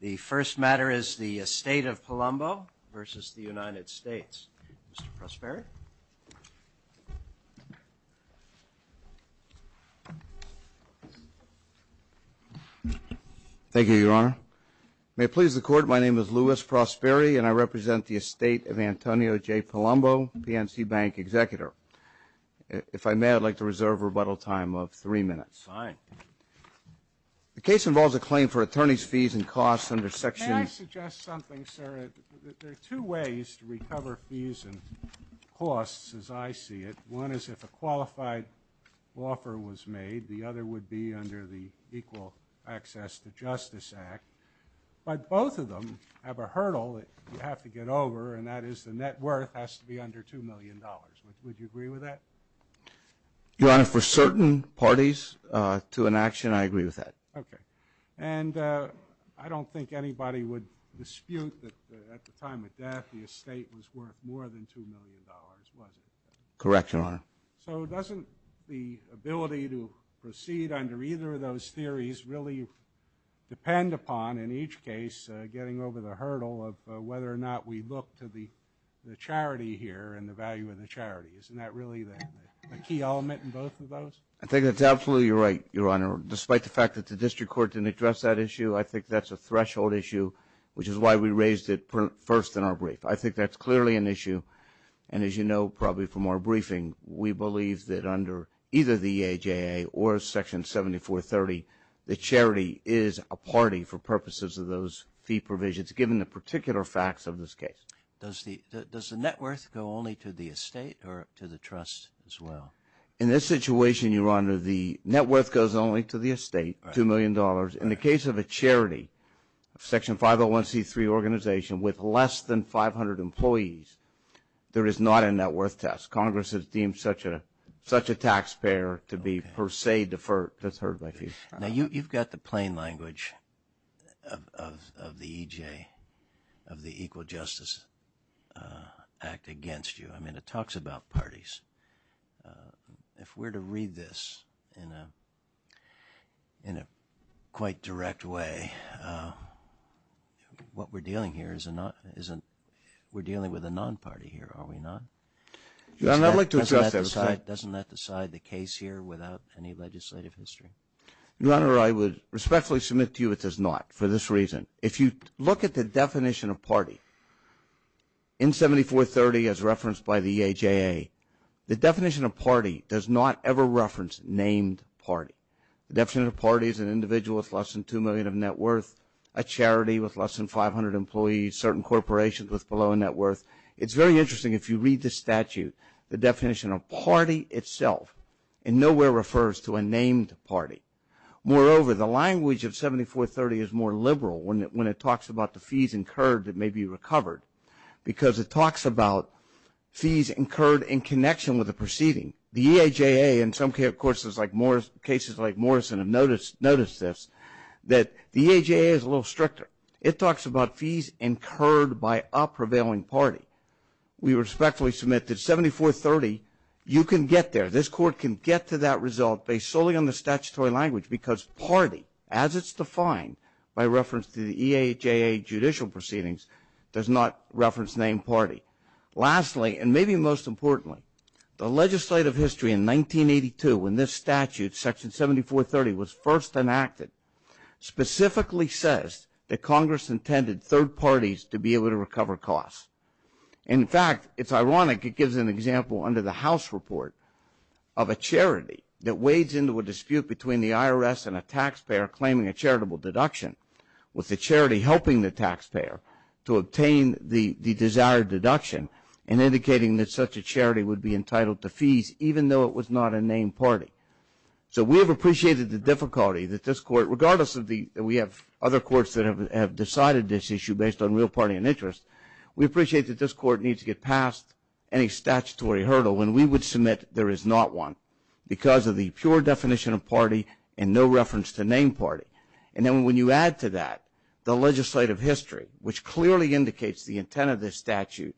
The first matter is the estate of Palumbo v. The United States. Mr. Prosperi. Thank you, Your Honor. May it please the Court, my name is Louis Prosperi and I represent the estate of Antonio J. Palumbo, PNC Bank executor. If I may, I'd like to reserve a rebuttal time of three minutes. Fine. The case involves a claim for attorney's fees and costs under Section... Can I suggest something, sir? There are two ways to recover fees and costs as I see it. One is if a qualified offer was made. The other would be under the Equal Access to Justice Act. But both of them have a hurdle that you have to get over, and that is the net worth has to be under $2 million. Would you agree with that? Your Honor, for certain parties to an action, I agree with that. Okay. And I don't think anybody would dispute that at the time of death the estate was worth more than $2 million, was it? Correct, Your Honor. So doesn't the ability to proceed under either of those theories really depend upon, in each case, getting over the hurdle of whether or not we look to the charity here and the value of the charity? Isn't that really the... I think that's absolutely right, Your Honor. Despite the fact that the district court didn't address that issue, I think that's a threshold issue, which is why we raised it first in our brief. I think that's clearly an issue. And as you know, probably from our briefing, we believe that under either the EJA or Section 7430, the charity is a party for purposes of those fee provisions given the particular facts of this case. Does the net worth go only to the estate or to the trust as well? In this situation, Your Honor, the net worth goes only to the estate, $2 million. In the case of a charity, a Section 501c3 organization with less than 500 employees, there is not a net worth test. Congress has deemed such a taxpayer to be per se deferred by fees. Now, you've got the plain language of the EJ, of the Equal Justice Act against you. I mean, it talks about parties. If we're to read this in a quite direct way, what we're dealing here is a non... We're dealing with a non-party here, are we not? Doesn't that decide the case here without any legislative history? Your Honor, I would respectfully submit to you it does not for this reason. If you look at the definition of party in 7430 as referenced by the EJA, the definition of party does not ever reference named party. The definition of party is an individual with less than $2 million of net worth, a charity with less than 500 employees, certain corporations with below net worth. It's very interesting if you read the statute, the definition of party itself in nowhere refers to a named party. Moreover, the language of 7430 is more liberal when it talks about the fees incurred that may be recovered, because it talks about fees incurred in connection with the proceeding. The EJA, and some cases like Morrison have noticed this, that the EJA is a little stricter. It talks about fees incurred by a prevailing party. We respectfully submit that 7430, you can get there. This court can get to that result based solely on the statutory language, because party, as it's defined by reference to the EJA judicial proceedings, does not reference named party. Lastly, and maybe most importantly, the legislative history in 1982 when this statute, section 7430, was first enacted, specifically says that Congress intended third parties to be able to recover costs. In fact, it's ironic, it gives an example under the House report of a charity that wades into a dispute between the IRS and a taxpayer claiming a charitable deduction, with the charity helping the taxpayer to obtain the desired deduction, and indicating that such a charity would be entitled to fees, even though it was not a named party. So we have appreciated the difficulty that this court, regardless of the, we have other courts that have decided this issue based on real party and interest, we appreciate that this court needs to get past any statutory hurdle when we would submit there is not one, because of the pure definition of party and no reference to named party. And then when you add to that the legislative history, which clearly indicates the intent of this statute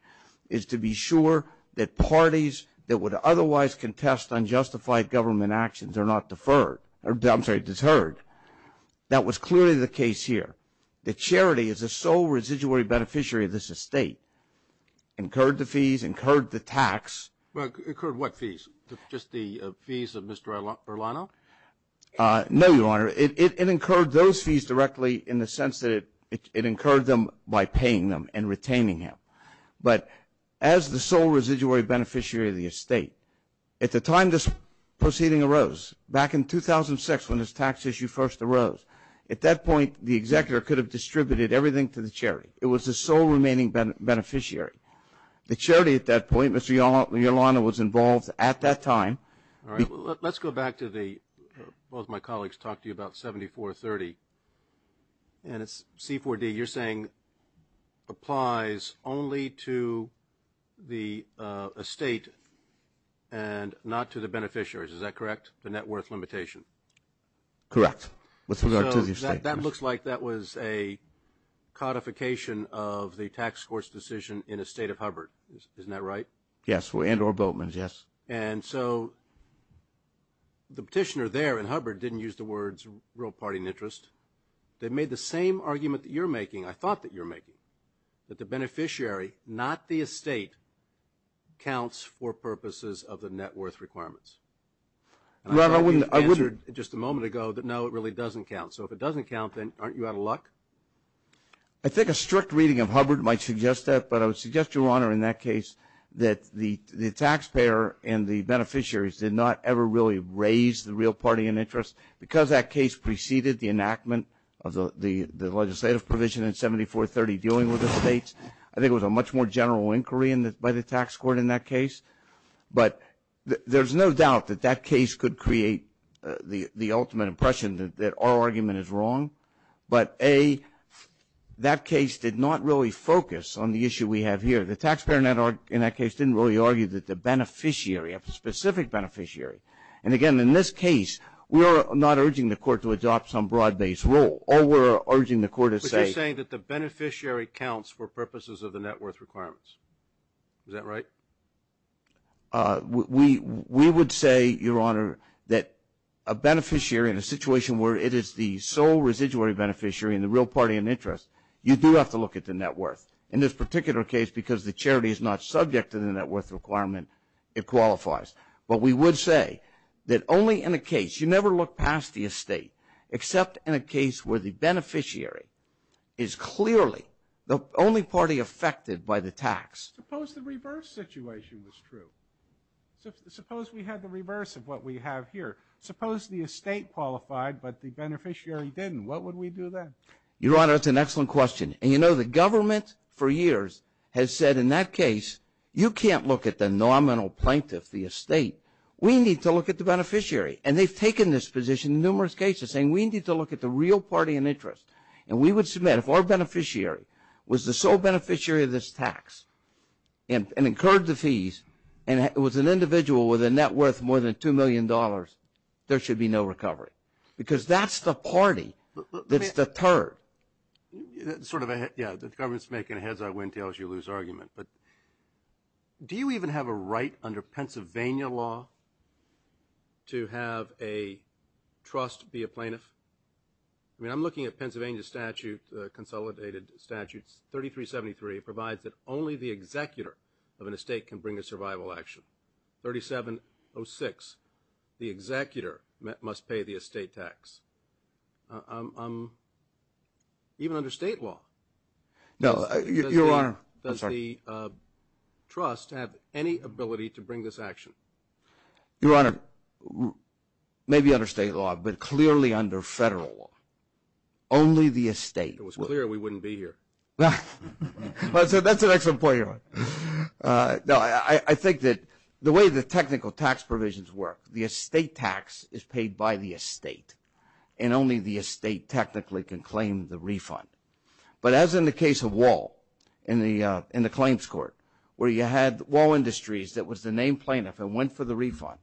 is to be sure that parties that would otherwise contest unjustified government actions are not deferred, I'm sorry, that was clearly the case here. The charity is the sole residual beneficiary of this estate, incurred the fees, incurred the tax. Incurred what fees, just the fees of Mr. Erlano? No, Your Honor. It incurred those fees directly in the sense that it incurred them by paying them and retaining them. But as the sole residuary beneficiary of the estate, at the time this proceeding arose, back in 2006 when this tax issue first arose, at that point the executor could have distributed everything to the charity. It was the sole remaining beneficiary. The charity at that point, Mr. Erlano, was involved at that time. All right. Let's go back to the, both my colleagues talked to you about 7430, and it's C4D. You're saying applies only to the estate and not to the beneficiaries. Is that correct, the net worth limitation? Correct, with regard to the estate. That looks like that was a codification of the tax court's decision in the State of Hubbard. Isn't that right? Yes, and or Boatman's, yes. And so the petitioner there in Hubbard didn't use the words real party and interest. They made the same argument that you're making, I thought that you were making, that the beneficiary, not the estate, counts for purposes of the net worth requirements. I think you answered just a moment ago that no, it really doesn't count. So if it doesn't count, then aren't you out of luck? I think a strict reading of Hubbard might suggest that, but I would suggest, Your Honor, in that case that the taxpayer and the beneficiaries did not ever really raise the real party and interest. Because that case preceded the enactment of the legislative provision in 7430 dealing with estates, I think it was a much more general inquiry by the tax court in that case. But there's no doubt that that case could create the ultimate impression that our argument is wrong. But, A, that case did not really focus on the issue we have here. The taxpayer in that case didn't really argue that the beneficiary, a specific beneficiary. And, again, in this case, we are not urging the court to adopt some broad-based rule. All we're urging the court is say. But you're saying that the beneficiary counts for purposes of the net worth requirements. Is that right? We would say, Your Honor, that a beneficiary in a situation where it is the sole residuary beneficiary and the real party and interest, you do have to look at the net worth. In this particular case, because the charity is not subject to the net worth requirement, it qualifies. But we would say that only in a case, you never look past the estate, except in a case where the beneficiary is clearly the only party affected by the tax. Suppose the reverse situation was true. Suppose we had the reverse of what we have here. Suppose the estate qualified but the beneficiary didn't. What would we do then? Your Honor, that's an excellent question. And, you know, the government for years has said in that case, you can't look at the nominal plaintiff, the estate. We need to look at the beneficiary. And they've taken this position in numerous cases, saying we need to look at the real party and interest. And we would submit, if our beneficiary was the sole beneficiary of this tax and incurred the fees and was an individual with a net worth more than $2 million, there should be no recovery. Because that's the party that's deterred. Sort of, yeah, the government's making a heads-up, wind-tails-you-lose argument. But do you even have a right under Pennsylvania law to have a trust be a plaintiff? I mean, I'm looking at Pennsylvania statute, consolidated statutes. 3373 provides that only the executor of an estate can bring a survival action. 3706, the executor must pay the estate tax. Even under state law. No, Your Honor. Does the trust have any ability to bring this action? Your Honor, maybe under state law, but clearly under federal law. Only the estate. It was clear we wouldn't be here. That's an excellent point, Your Honor. No, I think that the way the technical tax provisions work, the estate tax is paid by the estate. And only the estate technically can claim the refund. But as in the case of Wall, in the claims court, where you had Wall Industries that was the named plaintiff and went for the refund,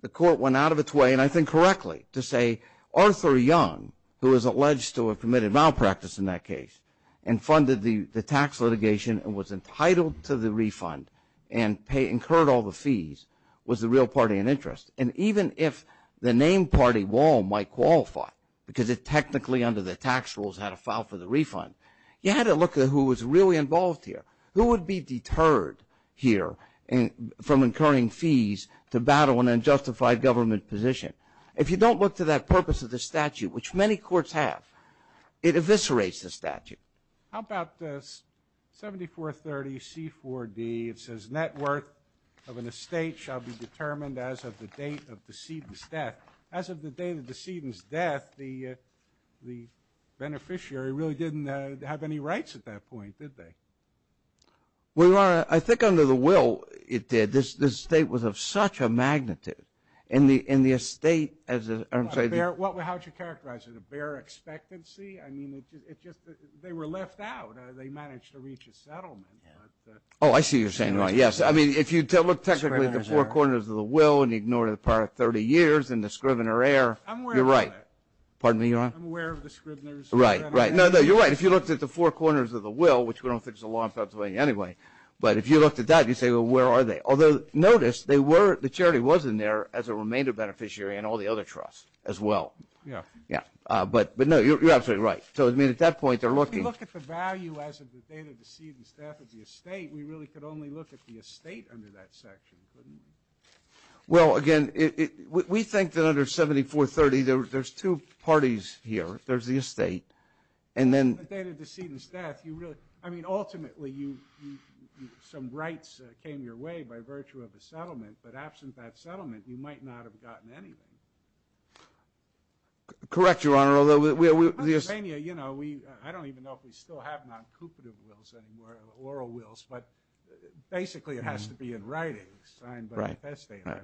the court went out of its way, and I think correctly, to say Arthur Young, who is alleged to have committed malpractice in that case, and funded the tax litigation and was entitled to the refund and incurred all the fees, was the real party in interest. And even if the named party, Wall, might qualify because it technically under the tax rules had to file for the refund, you had to look at who was really involved here. Who would be deterred here from incurring fees to battle an unjustified government position? If you don't look to that purpose of the statute, which many courts have, it eviscerates the statute. How about this? 7430C4D, it says, net worth of an estate shall be determined as of the date of the decedent's death. As of the date of the decedent's death, the beneficiary really didn't have any rights at that point, did they? Well, Your Honor, I think under the will, it did. This estate was of such a magnitude. And the estate, I'm sorry. How would you characterize it? A bare expectancy? I mean, they were left out. They managed to reach a settlement. Oh, I see what you're saying, Your Honor. Yes, I mean, if you look technically at the four corners of the will and ignore the part of 30 years and the Scrivener heir, you're right. I'm aware of that. Pardon me, Your Honor? I'm aware of the Scrivener's. Right, right. No, no, you're right. If you looked at the four corners of the will, which we don't think is a law in Pennsylvania anyway, but if you looked at that, you'd say, well, where are they? Although, notice, the charity was in there as a remainder beneficiary and all the other trusts as well. Yeah. Yeah. But, no, you're absolutely right. So, I mean, at that point, they're looking. If you look at the value as of the date of decedent's death of the estate, we really could only look at the estate under that section, couldn't we? Well, again, we think that under 7430, there's two parties here. There's the estate and then... The date of decedent's death, you really... I mean, ultimately, some rights came your way by virtue of the settlement, but absent that settlement, you might not have gotten anything. Correct, Your Honor, although... In Pennsylvania, you know, we... I don't even know if we still have non-coupative wills anymore or oral wills, but basically it has to be in writing. Right. Signed by the estate. Right.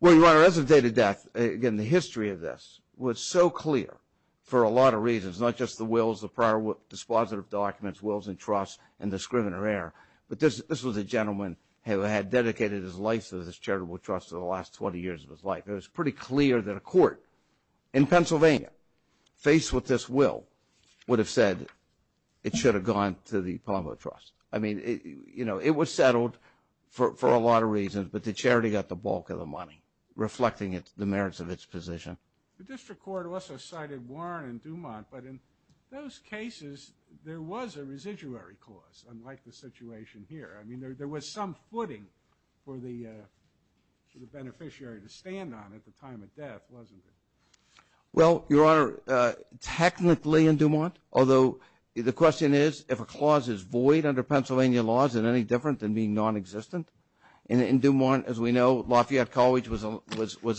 Well, Your Honor, as of date of death, again, the history of this was so clear for a lot of reasons, not just the wills, the prior dispositive documents, wills and trusts, and the scrivener error, but this was a gentleman who had dedicated his life to this charitable trust for the last 20 years of his life. It was pretty clear that a court in Pennsylvania, faced with this will, would have said it should have gone to the Pombo Trust. I mean, you know, it was settled for a lot of reasons, but the charity got the bulk of the money, reflecting the merits of its position. The district court also cited Warren and Dumont, but in those cases, there was a residuary clause, unlike the situation here. I mean, there was some footing for the beneficiary to stand on at the time of death, wasn't there? Well, Your Honor, technically in Dumont, although the question is, if a clause is void under Pennsylvania laws, is it any different than being non-existent? In Dumont, as we know, Lafayette College was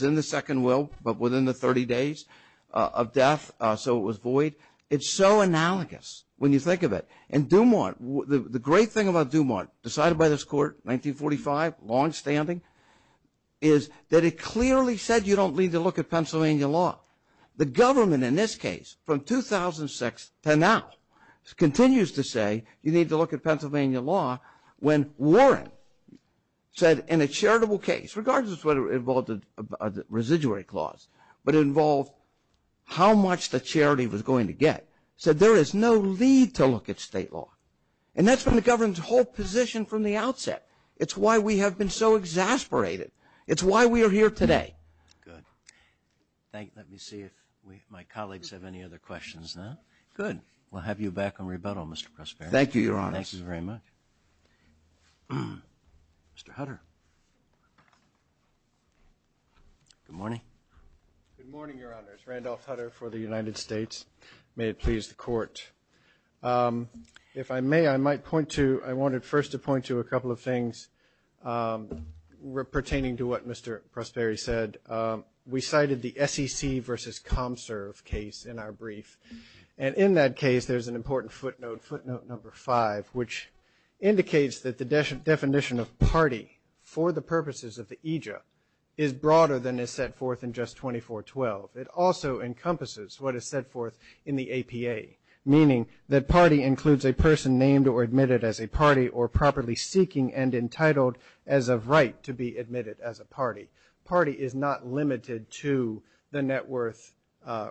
in the second will, but within the 30 days of death, so it was void. It's so analogous when you think of it. And Dumont, the great thing about Dumont, decided by this court in 1945, longstanding, is that it clearly said you don't need to look at Pennsylvania law. The government in this case, from 2006 to now, continues to say you need to look at Pennsylvania law when Warren said in a charitable case, regardless of whether it involved a residuary clause, but it involved how much the charity was going to get, said there is no need to look at state law. And that's been the government's whole position from the outset. It's why we have been so exasperated. It's why we are here today. Good. Thank you. Let me see if my colleagues have any other questions now. Good. We'll have you back on rebuttal, Mr. Prosperity. Thank you, Your Honor. Thank you very much. Mr. Hutter. Good morning. Good morning, Your Honors. Randolph Hutter for the United States. May it please the Court. If I may, I might point to, I wanted first to point to a couple of things pertaining to what Mr. Prosperity said. We cited the SEC versus ComServe case in our brief, and in that case there's an important footnote, footnote number five, which indicates that the definition of party for the purposes of the AJA is broader than is set forth in just 2412. It also encompasses what is set forth in the APA, meaning that party includes a person named or admitted as a party or properly seeking and entitled as of right to be admitted as a party. Party is not limited to the net worth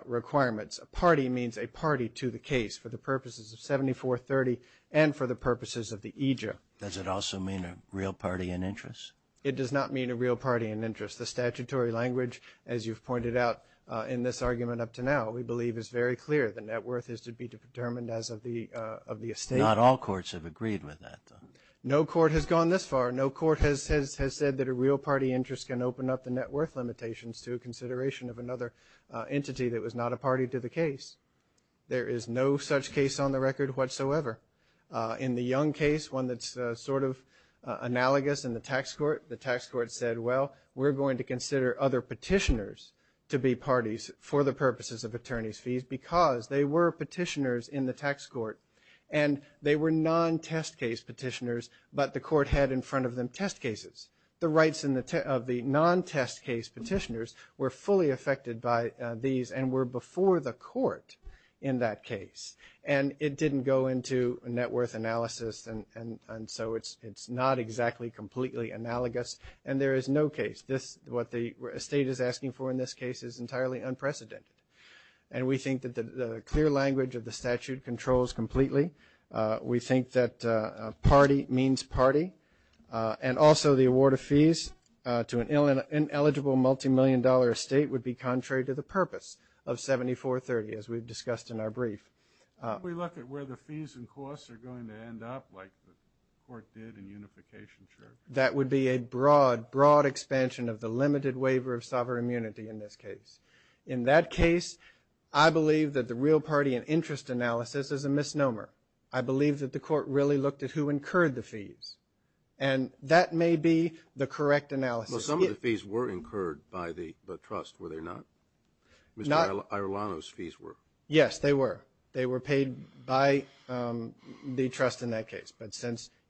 requirements. A party means a party to the case for the purposes of 7430 and for the purposes of the AJA. Does it also mean a real party in interest? It does not mean a real party in interest. The statutory language, as you've pointed out in this argument up to now, we believe is very clear. The net worth is to be determined as of the estate. Not all courts have agreed with that. No court has gone this far. No court has said that a real party interest can open up the net worth limitations to a consideration of another entity that was not a party to the case. There is no such case on the record whatsoever. In the Young case, one that's sort of analogous in the tax court, the tax court said, well, we're going to consider other petitioners to be parties for the purposes of attorney's fees because they were petitioners in the tax court and they were non-test case petitioners, but the court had in front of them test cases. The rights of the non-test case petitioners were fully affected by these and were before the court in that case. And it didn't go into net worth analysis, and so it's not exactly completely analogous. And there is no case. What the estate is asking for in this case is entirely unprecedented. And we think that the clear language of the statute controls completely. We think that party means party. And also the award of fees to an ineligible multimillion dollar estate would be contrary to the purpose of 7430, as we've discussed in our brief. If we look at where the fees and costs are going to end up, like the court did in Unification Church. That would be a broad, broad expansion of the limited waiver of sovereign immunity in this case. In that case, I believe that the real party and interest analysis is a misnomer. I believe that the court really looked at who incurred the fees. And that may be the correct analysis. Well, some of the fees were incurred by the trust, were they not? Mr. Irlano's fees were. Yes, they were. They were paid by the trust in that case,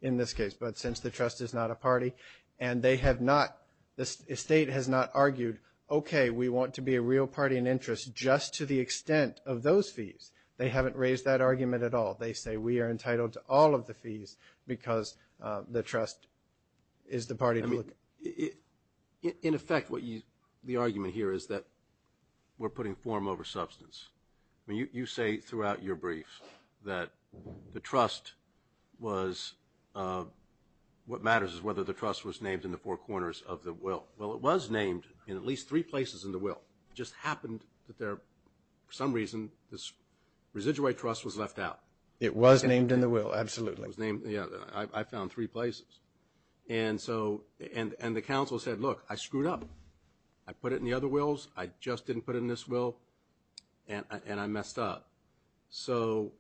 in this case. But since the trust is not a party, and they have not, the estate has not argued, okay, we want to be a real party and interest just to the extent of those fees. They haven't raised that argument at all. They say we are entitled to all of the fees because the trust is the party to look at. In effect, the argument here is that we're putting form over substance. You say throughout your brief that the trust was, what matters is whether the trust was named in the four corners of the will. Well, it was named in at least three places in the will. It just happened that there, for some reason, this residual trust was left out. It was named in the will, absolutely. Yeah, I found three places. And the counsel said, look, I screwed up. I put it in the other wills. I just didn't put it in this will, and I messed up. So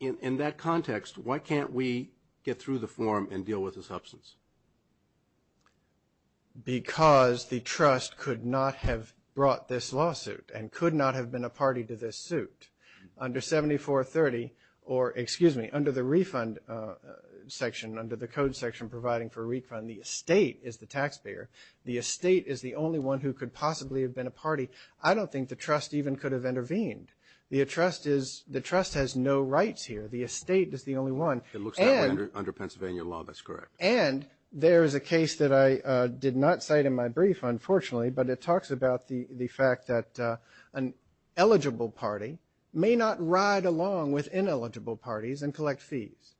in that context, why can't we get through the form and deal with the substance? Because the trust could not have brought this lawsuit and could not have been a party to this suit. Under 7430 or, excuse me, under the refund section, under the code section providing for refund, the estate is the taxpayer. The estate is the only one who could possibly have been a party. I don't think the trust even could have intervened. The trust has no rights here. The estate is the only one. It looks that way under Pennsylvania law. That's correct. And there is a case that I did not cite in my brief, unfortunately, but it talks about the fact that an eligible party may not ride along with ineligible parties and collect fees.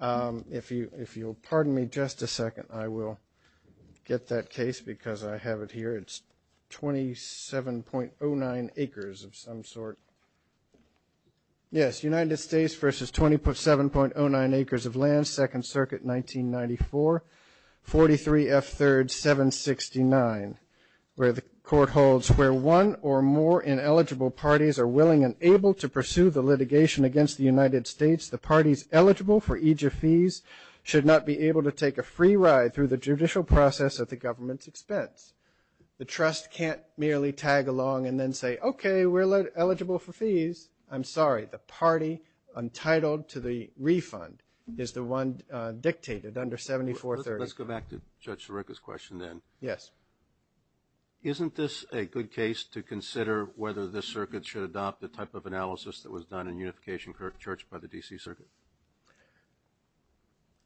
If you'll pardon me just a second, I will get that case because I have it here. It's 27.09 acres of some sort. Yes, United States versus 27.09 acres of land, Second Circuit, 1994, 43F3rd 769, where the court holds where one or more ineligible parties are willing and able to pursue the litigation against the United States, the parties eligible for each of these should not be able to take a free ride The trust can't merely tag along and then say, okay, we're eligible for fees. I'm sorry. The party untitled to the refund is the one dictated under 7430. Let's go back to Judge Sirica's question then. Yes. Isn't this a good case to consider whether this circuit should adopt the type of analysis that was done in Unification Church by the D.C. Circuit?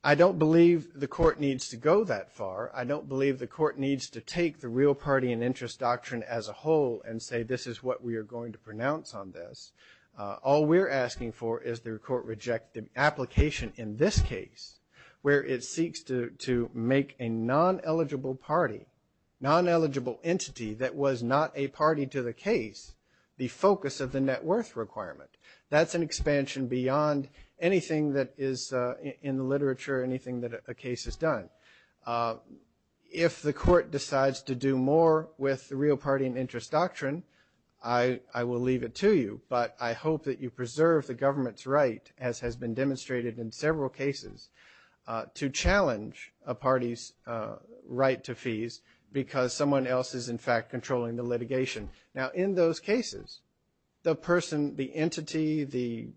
I don't believe the court needs to go that far. I don't believe the court needs to take the real party and interest doctrine as a whole and say this is what we are going to pronounce on this. All we're asking for is the court reject the application in this case where it seeks to make a non-eligible party, non-eligible entity that was not a party to the case, the focus of the net worth requirement. That's an expansion beyond anything that is in the literature, anything that a case has done. If the court decides to do more with the real party and interest doctrine, I will leave it to you, but I hope that you preserve the government's right, as has been demonstrated in several cases, to challenge a party's right to fees because someone else is, in fact, controlling the litigation. Now, in those cases, the person, the entity, the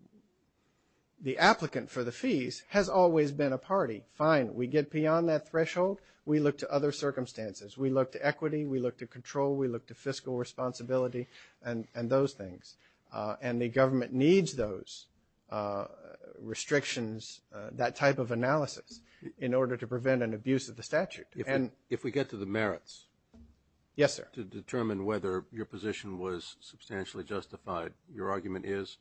applicant for the fees has always been a party. Fine, we get beyond that threshold. We look to other circumstances. We look to equity. We look to control. We look to fiscal responsibility and those things. And the government needs those restrictions, that type of analysis, in order to prevent an abuse of the statute. If we get to the merits. Yes, sir. To determine whether your position was substantially justified, your argument is?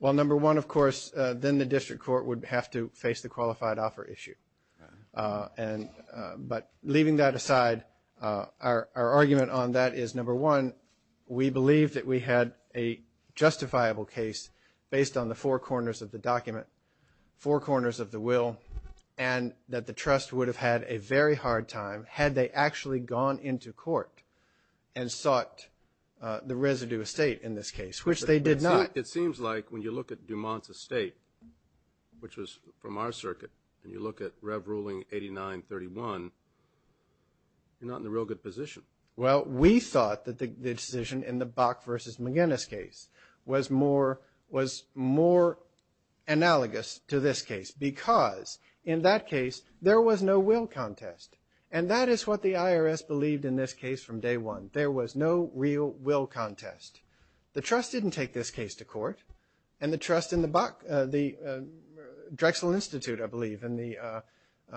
Well, number one, of course, then the district court would have to face the qualified offer issue. But leaving that aside, our argument on that is, number one, we believe that we had a justifiable case based on the four corners of the document, four corners of the will, and that the trust would have had a very hard time had they actually gone into court and sought the residue estate in this case, which they did not. It seems like when you look at Dumont's estate, which was from our circuit, and you look at Rev. Ruling 8931, you're not in a real good position. Well, we thought that the decision in the Bach v. McGinnis case was more analogous to this case because in that case there was no will contest. And that is what the IRS believed in this case from day one. There was no real will contest. The trust didn't take this case to court, and the trust in the Drexel Institute, I believe, in the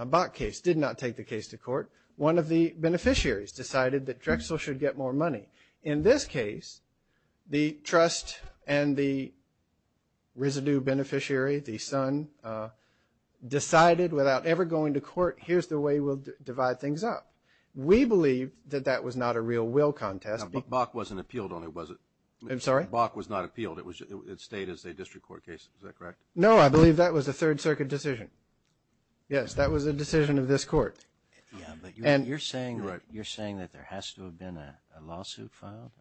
Bach case did not take the case to court. One of the beneficiaries decided that Drexel should get more money. In this case, the trust and the residue beneficiary, the son, decided without ever going to court, here's the way we'll divide things up. We believe that that was not a real will contest. But Bach wasn't appealed on it, was it? I'm sorry? Bach was not appealed. It stayed as a district court case. Is that correct? No, I believe that was a Third Circuit decision. Yes, that was a decision of this court. But you're saying that there has to have been a lawsuit filed?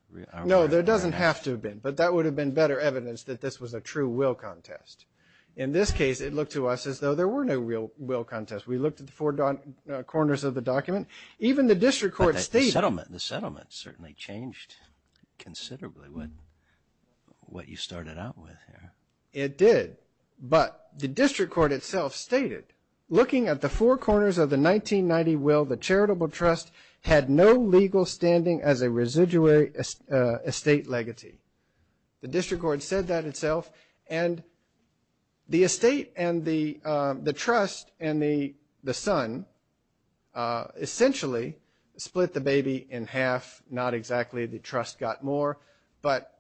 No, there doesn't have to have been. But that would have been better evidence that this was a true will contest. In this case, it looked to us as though there were no real will contests. We looked at the four corners of the document. Even the district court stated that. But the settlement certainly changed considerably what you started out with here. It did. But the district court itself stated, looking at the four corners of the 1990 will, the charitable trust had no legal standing as a residuary estate legatee. The district court said that itself. And the estate and the trust and the son essentially split the baby in half. Not exactly the trust got more. But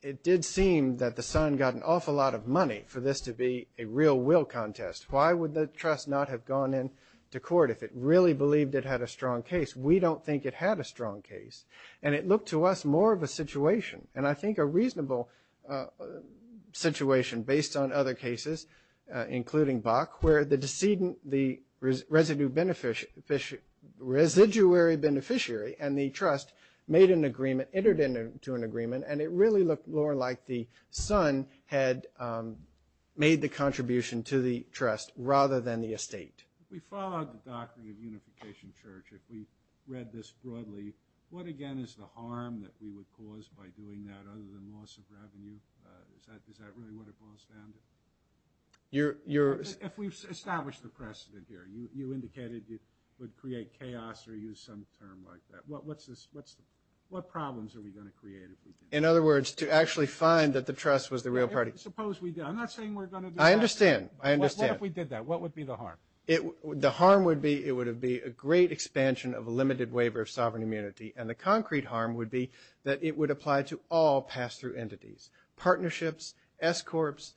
it did seem that the son got an awful lot of money for this to be a real will contest. Why would the trust not have gone into court if it really believed it had a strong case? We don't think it had a strong case. And it looked to us more of a situation, and I think a reasonable situation based on other cases, including Bach, where the residuary beneficiary and the trust made an agreement, entered into an agreement, and it really looked more like the son had made the contribution to the trust rather than the estate. If we follow the Doctrine of Unification Church, if we read this broadly, what again is the harm that we would cause by doing that other than loss of revenue? Is that really what it boils down to? If we establish the precedent here, you indicated it would create chaos or use some term like that. What problems are we going to create if we did that? In other words, to actually find that the trust was the real party. Suppose we did. I'm not saying we're going to do that. I understand. What if we did that? What would be the harm? The harm would be it would be a great expansion of a limited waiver of sovereign immunity, and the concrete harm would be that it would apply to all pass-through entities, partnerships, escorts,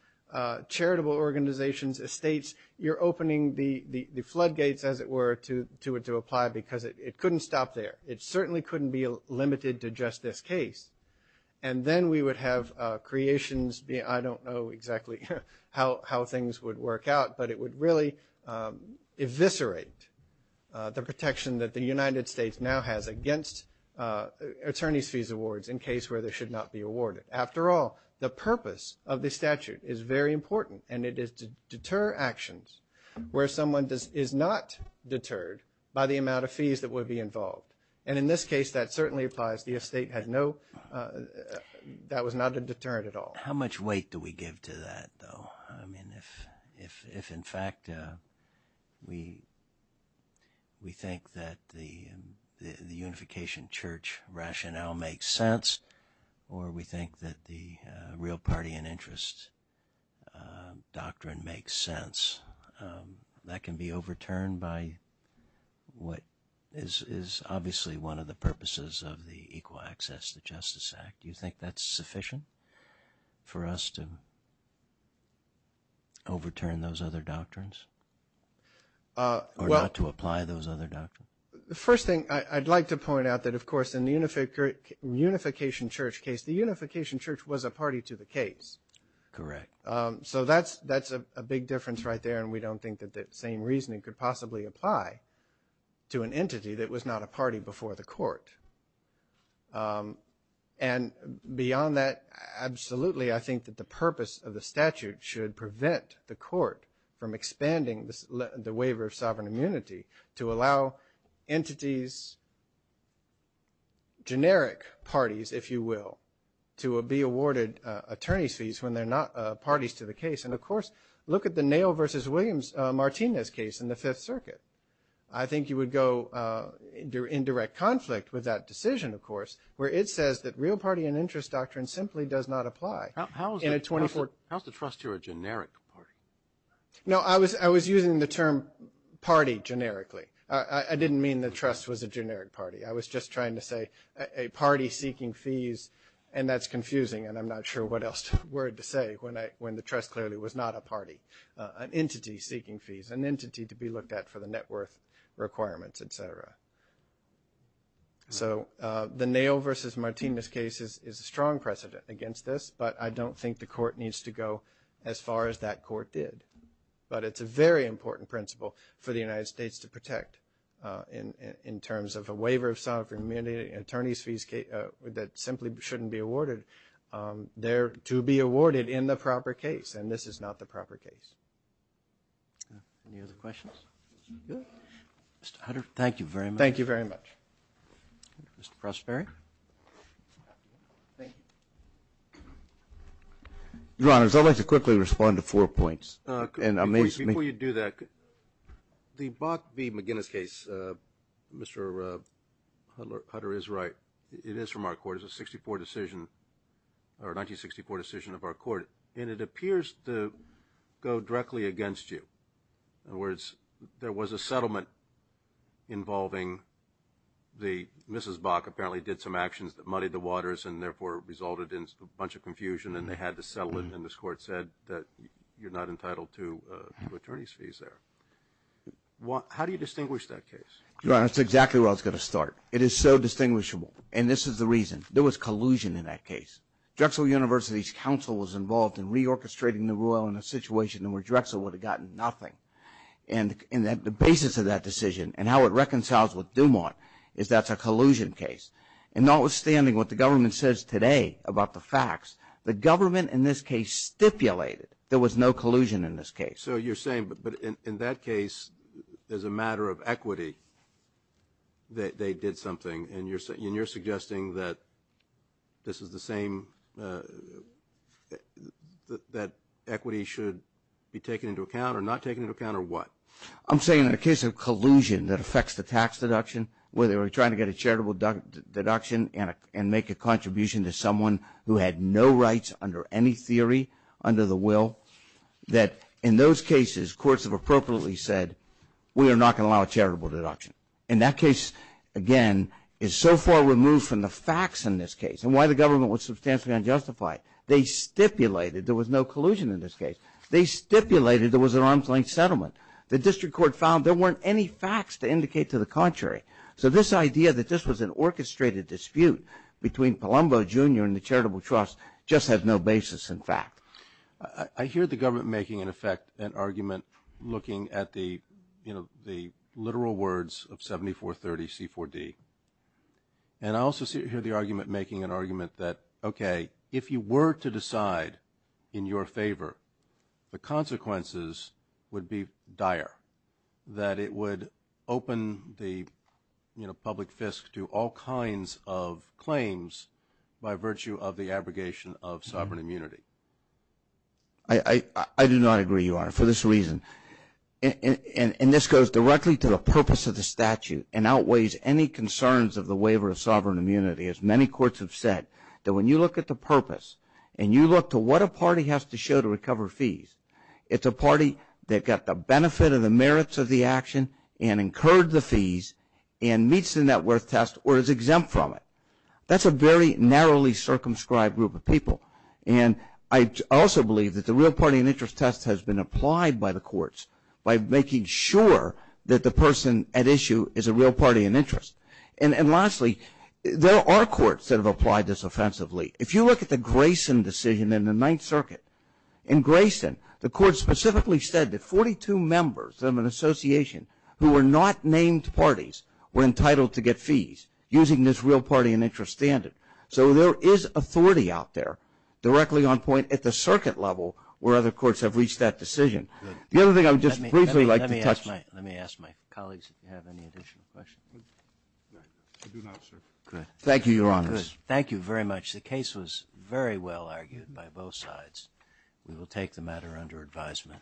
charitable organizations, estates. You're opening the floodgates, as it were, to apply because it couldn't stop there. It certainly couldn't be limited to just this case. And then we would have creations. I don't know exactly how things would work out, but it would really eviscerate the protection that the United States now has against attorneys' fees awards in case where they should not be awarded. After all, the purpose of the statute is very important, and it is to deter actions where someone is not deterred by the amount of fees that would be involved. And in this case, that certainly applies. The estate had no that was not a deterrent at all. How much weight do we give to that, though? I mean, if in fact we think that the unification church rationale makes sense or we think that the real party and interest doctrine makes sense, that can be overturned by what is obviously one of the purposes of the Equal Access to Justice Act. Do you think that's sufficient for us to overturn those other doctrines or not to apply those other doctrines? The first thing I'd like to point out that, of course, in the unification church case, the unification church was a party to the case. Correct. So that's a big difference right there, and we don't think that that same reasoning could possibly apply to an entity that was not a party before the court. And beyond that, absolutely, I think that the purpose of the statute should prevent the court from expanding the waiver of sovereign immunity to allow entities, generic parties, if you will, to be awarded attorney's fees when they're not parties to the case. And, of course, look at the Nail v. Williams-Martinez case in the Fifth Circuit. I think you would go in direct conflict with that decision, of course, where it says that real party and interest doctrine simply does not apply. How is the trust here a generic party? No, I was using the term party generically. I didn't mean the trust was a generic party. I was just trying to say a party seeking fees, and that's confusing, and I'm not sure what else word to say when the trust clearly was not a party, an entity seeking fees, an entity to be looked at for the net worth requirements, et cetera. So the Nail v. Martinez case is a strong precedent against this, but I don't think the court needs to go as far as that court did. But it's a very important principle for the United States to protect in terms of a waiver of sovereign immunity, attorney's fees that simply shouldn't be awarded. They're to be awarded in the proper case, and this is not the proper case. Any other questions? Mr. Hunter, thank you very much. Thank you very much. Mr. Prosperi. Thank you. Your Honors, I'd like to quickly respond to four points. Before you do that, the Bach v. McGinnis case, Mr. Hunter is right. It is from our court. It's a 1964 decision of our court, and it appears to go directly against you. In other words, there was a settlement involving the Mrs. Bach apparently did some actions that muddied the waters and therefore resulted in a bunch of confusion, and they had to settle it, and this court said that you're not entitled to attorney's fees there. How do you distinguish that case? Your Honor, that's exactly where I was going to start. It is so distinguishable, and this is the reason. There was collusion in that case. Drexel University's counsel was involved in reorchestrating the rule in a situation where Drexel would have gotten nothing. And the basis of that decision and how it reconciles with Dumont is that's a collusion case. And notwithstanding what the government says today about the facts, the government, in this case, stipulated there was no collusion in this case. So you're saying, but in that case, as a matter of equity, they did something, and you're suggesting that this is the same, that equity should be taken into account or not taken into account or what? I'm saying in the case of collusion that affects the tax deduction, where they were trying to get a charitable deduction and make a contribution to someone who had no rights under any theory, under the will, that in those cases, courts have appropriately said, we are not going to allow a charitable deduction. And that case, again, is so far removed from the facts in this case and why the government was substantially unjustified. They stipulated there was no collusion in this case. They stipulated there was an arm's-length settlement. The district court found there weren't any facts to indicate to the contrary. So this idea that this was an orchestrated dispute between Palumbo Jr. and the charitable trust just had no basis in fact. I hear the government making, in effect, an argument looking at the literal words of 7430 C4D. And I also hear the argument making an argument that, okay, if you were to decide in your favor, the consequences would be dire, that it would open the public fist to all kinds of claims by virtue of the abrogation of sovereign immunity. I do not agree, Your Honor, for this reason. And this goes directly to the purpose of the statute and outweighs any concerns of the waiver of sovereign immunity. As many courts have said, that when you look at the purpose and you look to what a party has to show to recover fees, it's a party that got the benefit of the merits of the action and incurred the fees and meets the net worth test or is exempt from it. That's a very narrowly circumscribed group of people. And I also believe that the real party and interest test has been applied by the courts by making sure that the person at issue is a real party and interest. And lastly, there are courts that have applied this offensively. If you look at the Grayson decision in the Ninth Circuit, in Grayson the court specifically said that 42 members of an association who were not named parties were entitled to get fees using this real party and interest standard. So there is authority out there directly on point at the circuit level where other courts have reached that decision. The other thing I would just briefly like to touch on. Let me ask my colleagues if you have any additional questions. I do not, sir. Thank you, Your Honors. Good. Thank you very much. The case was very well argued by both sides. We will take the matter under advisement.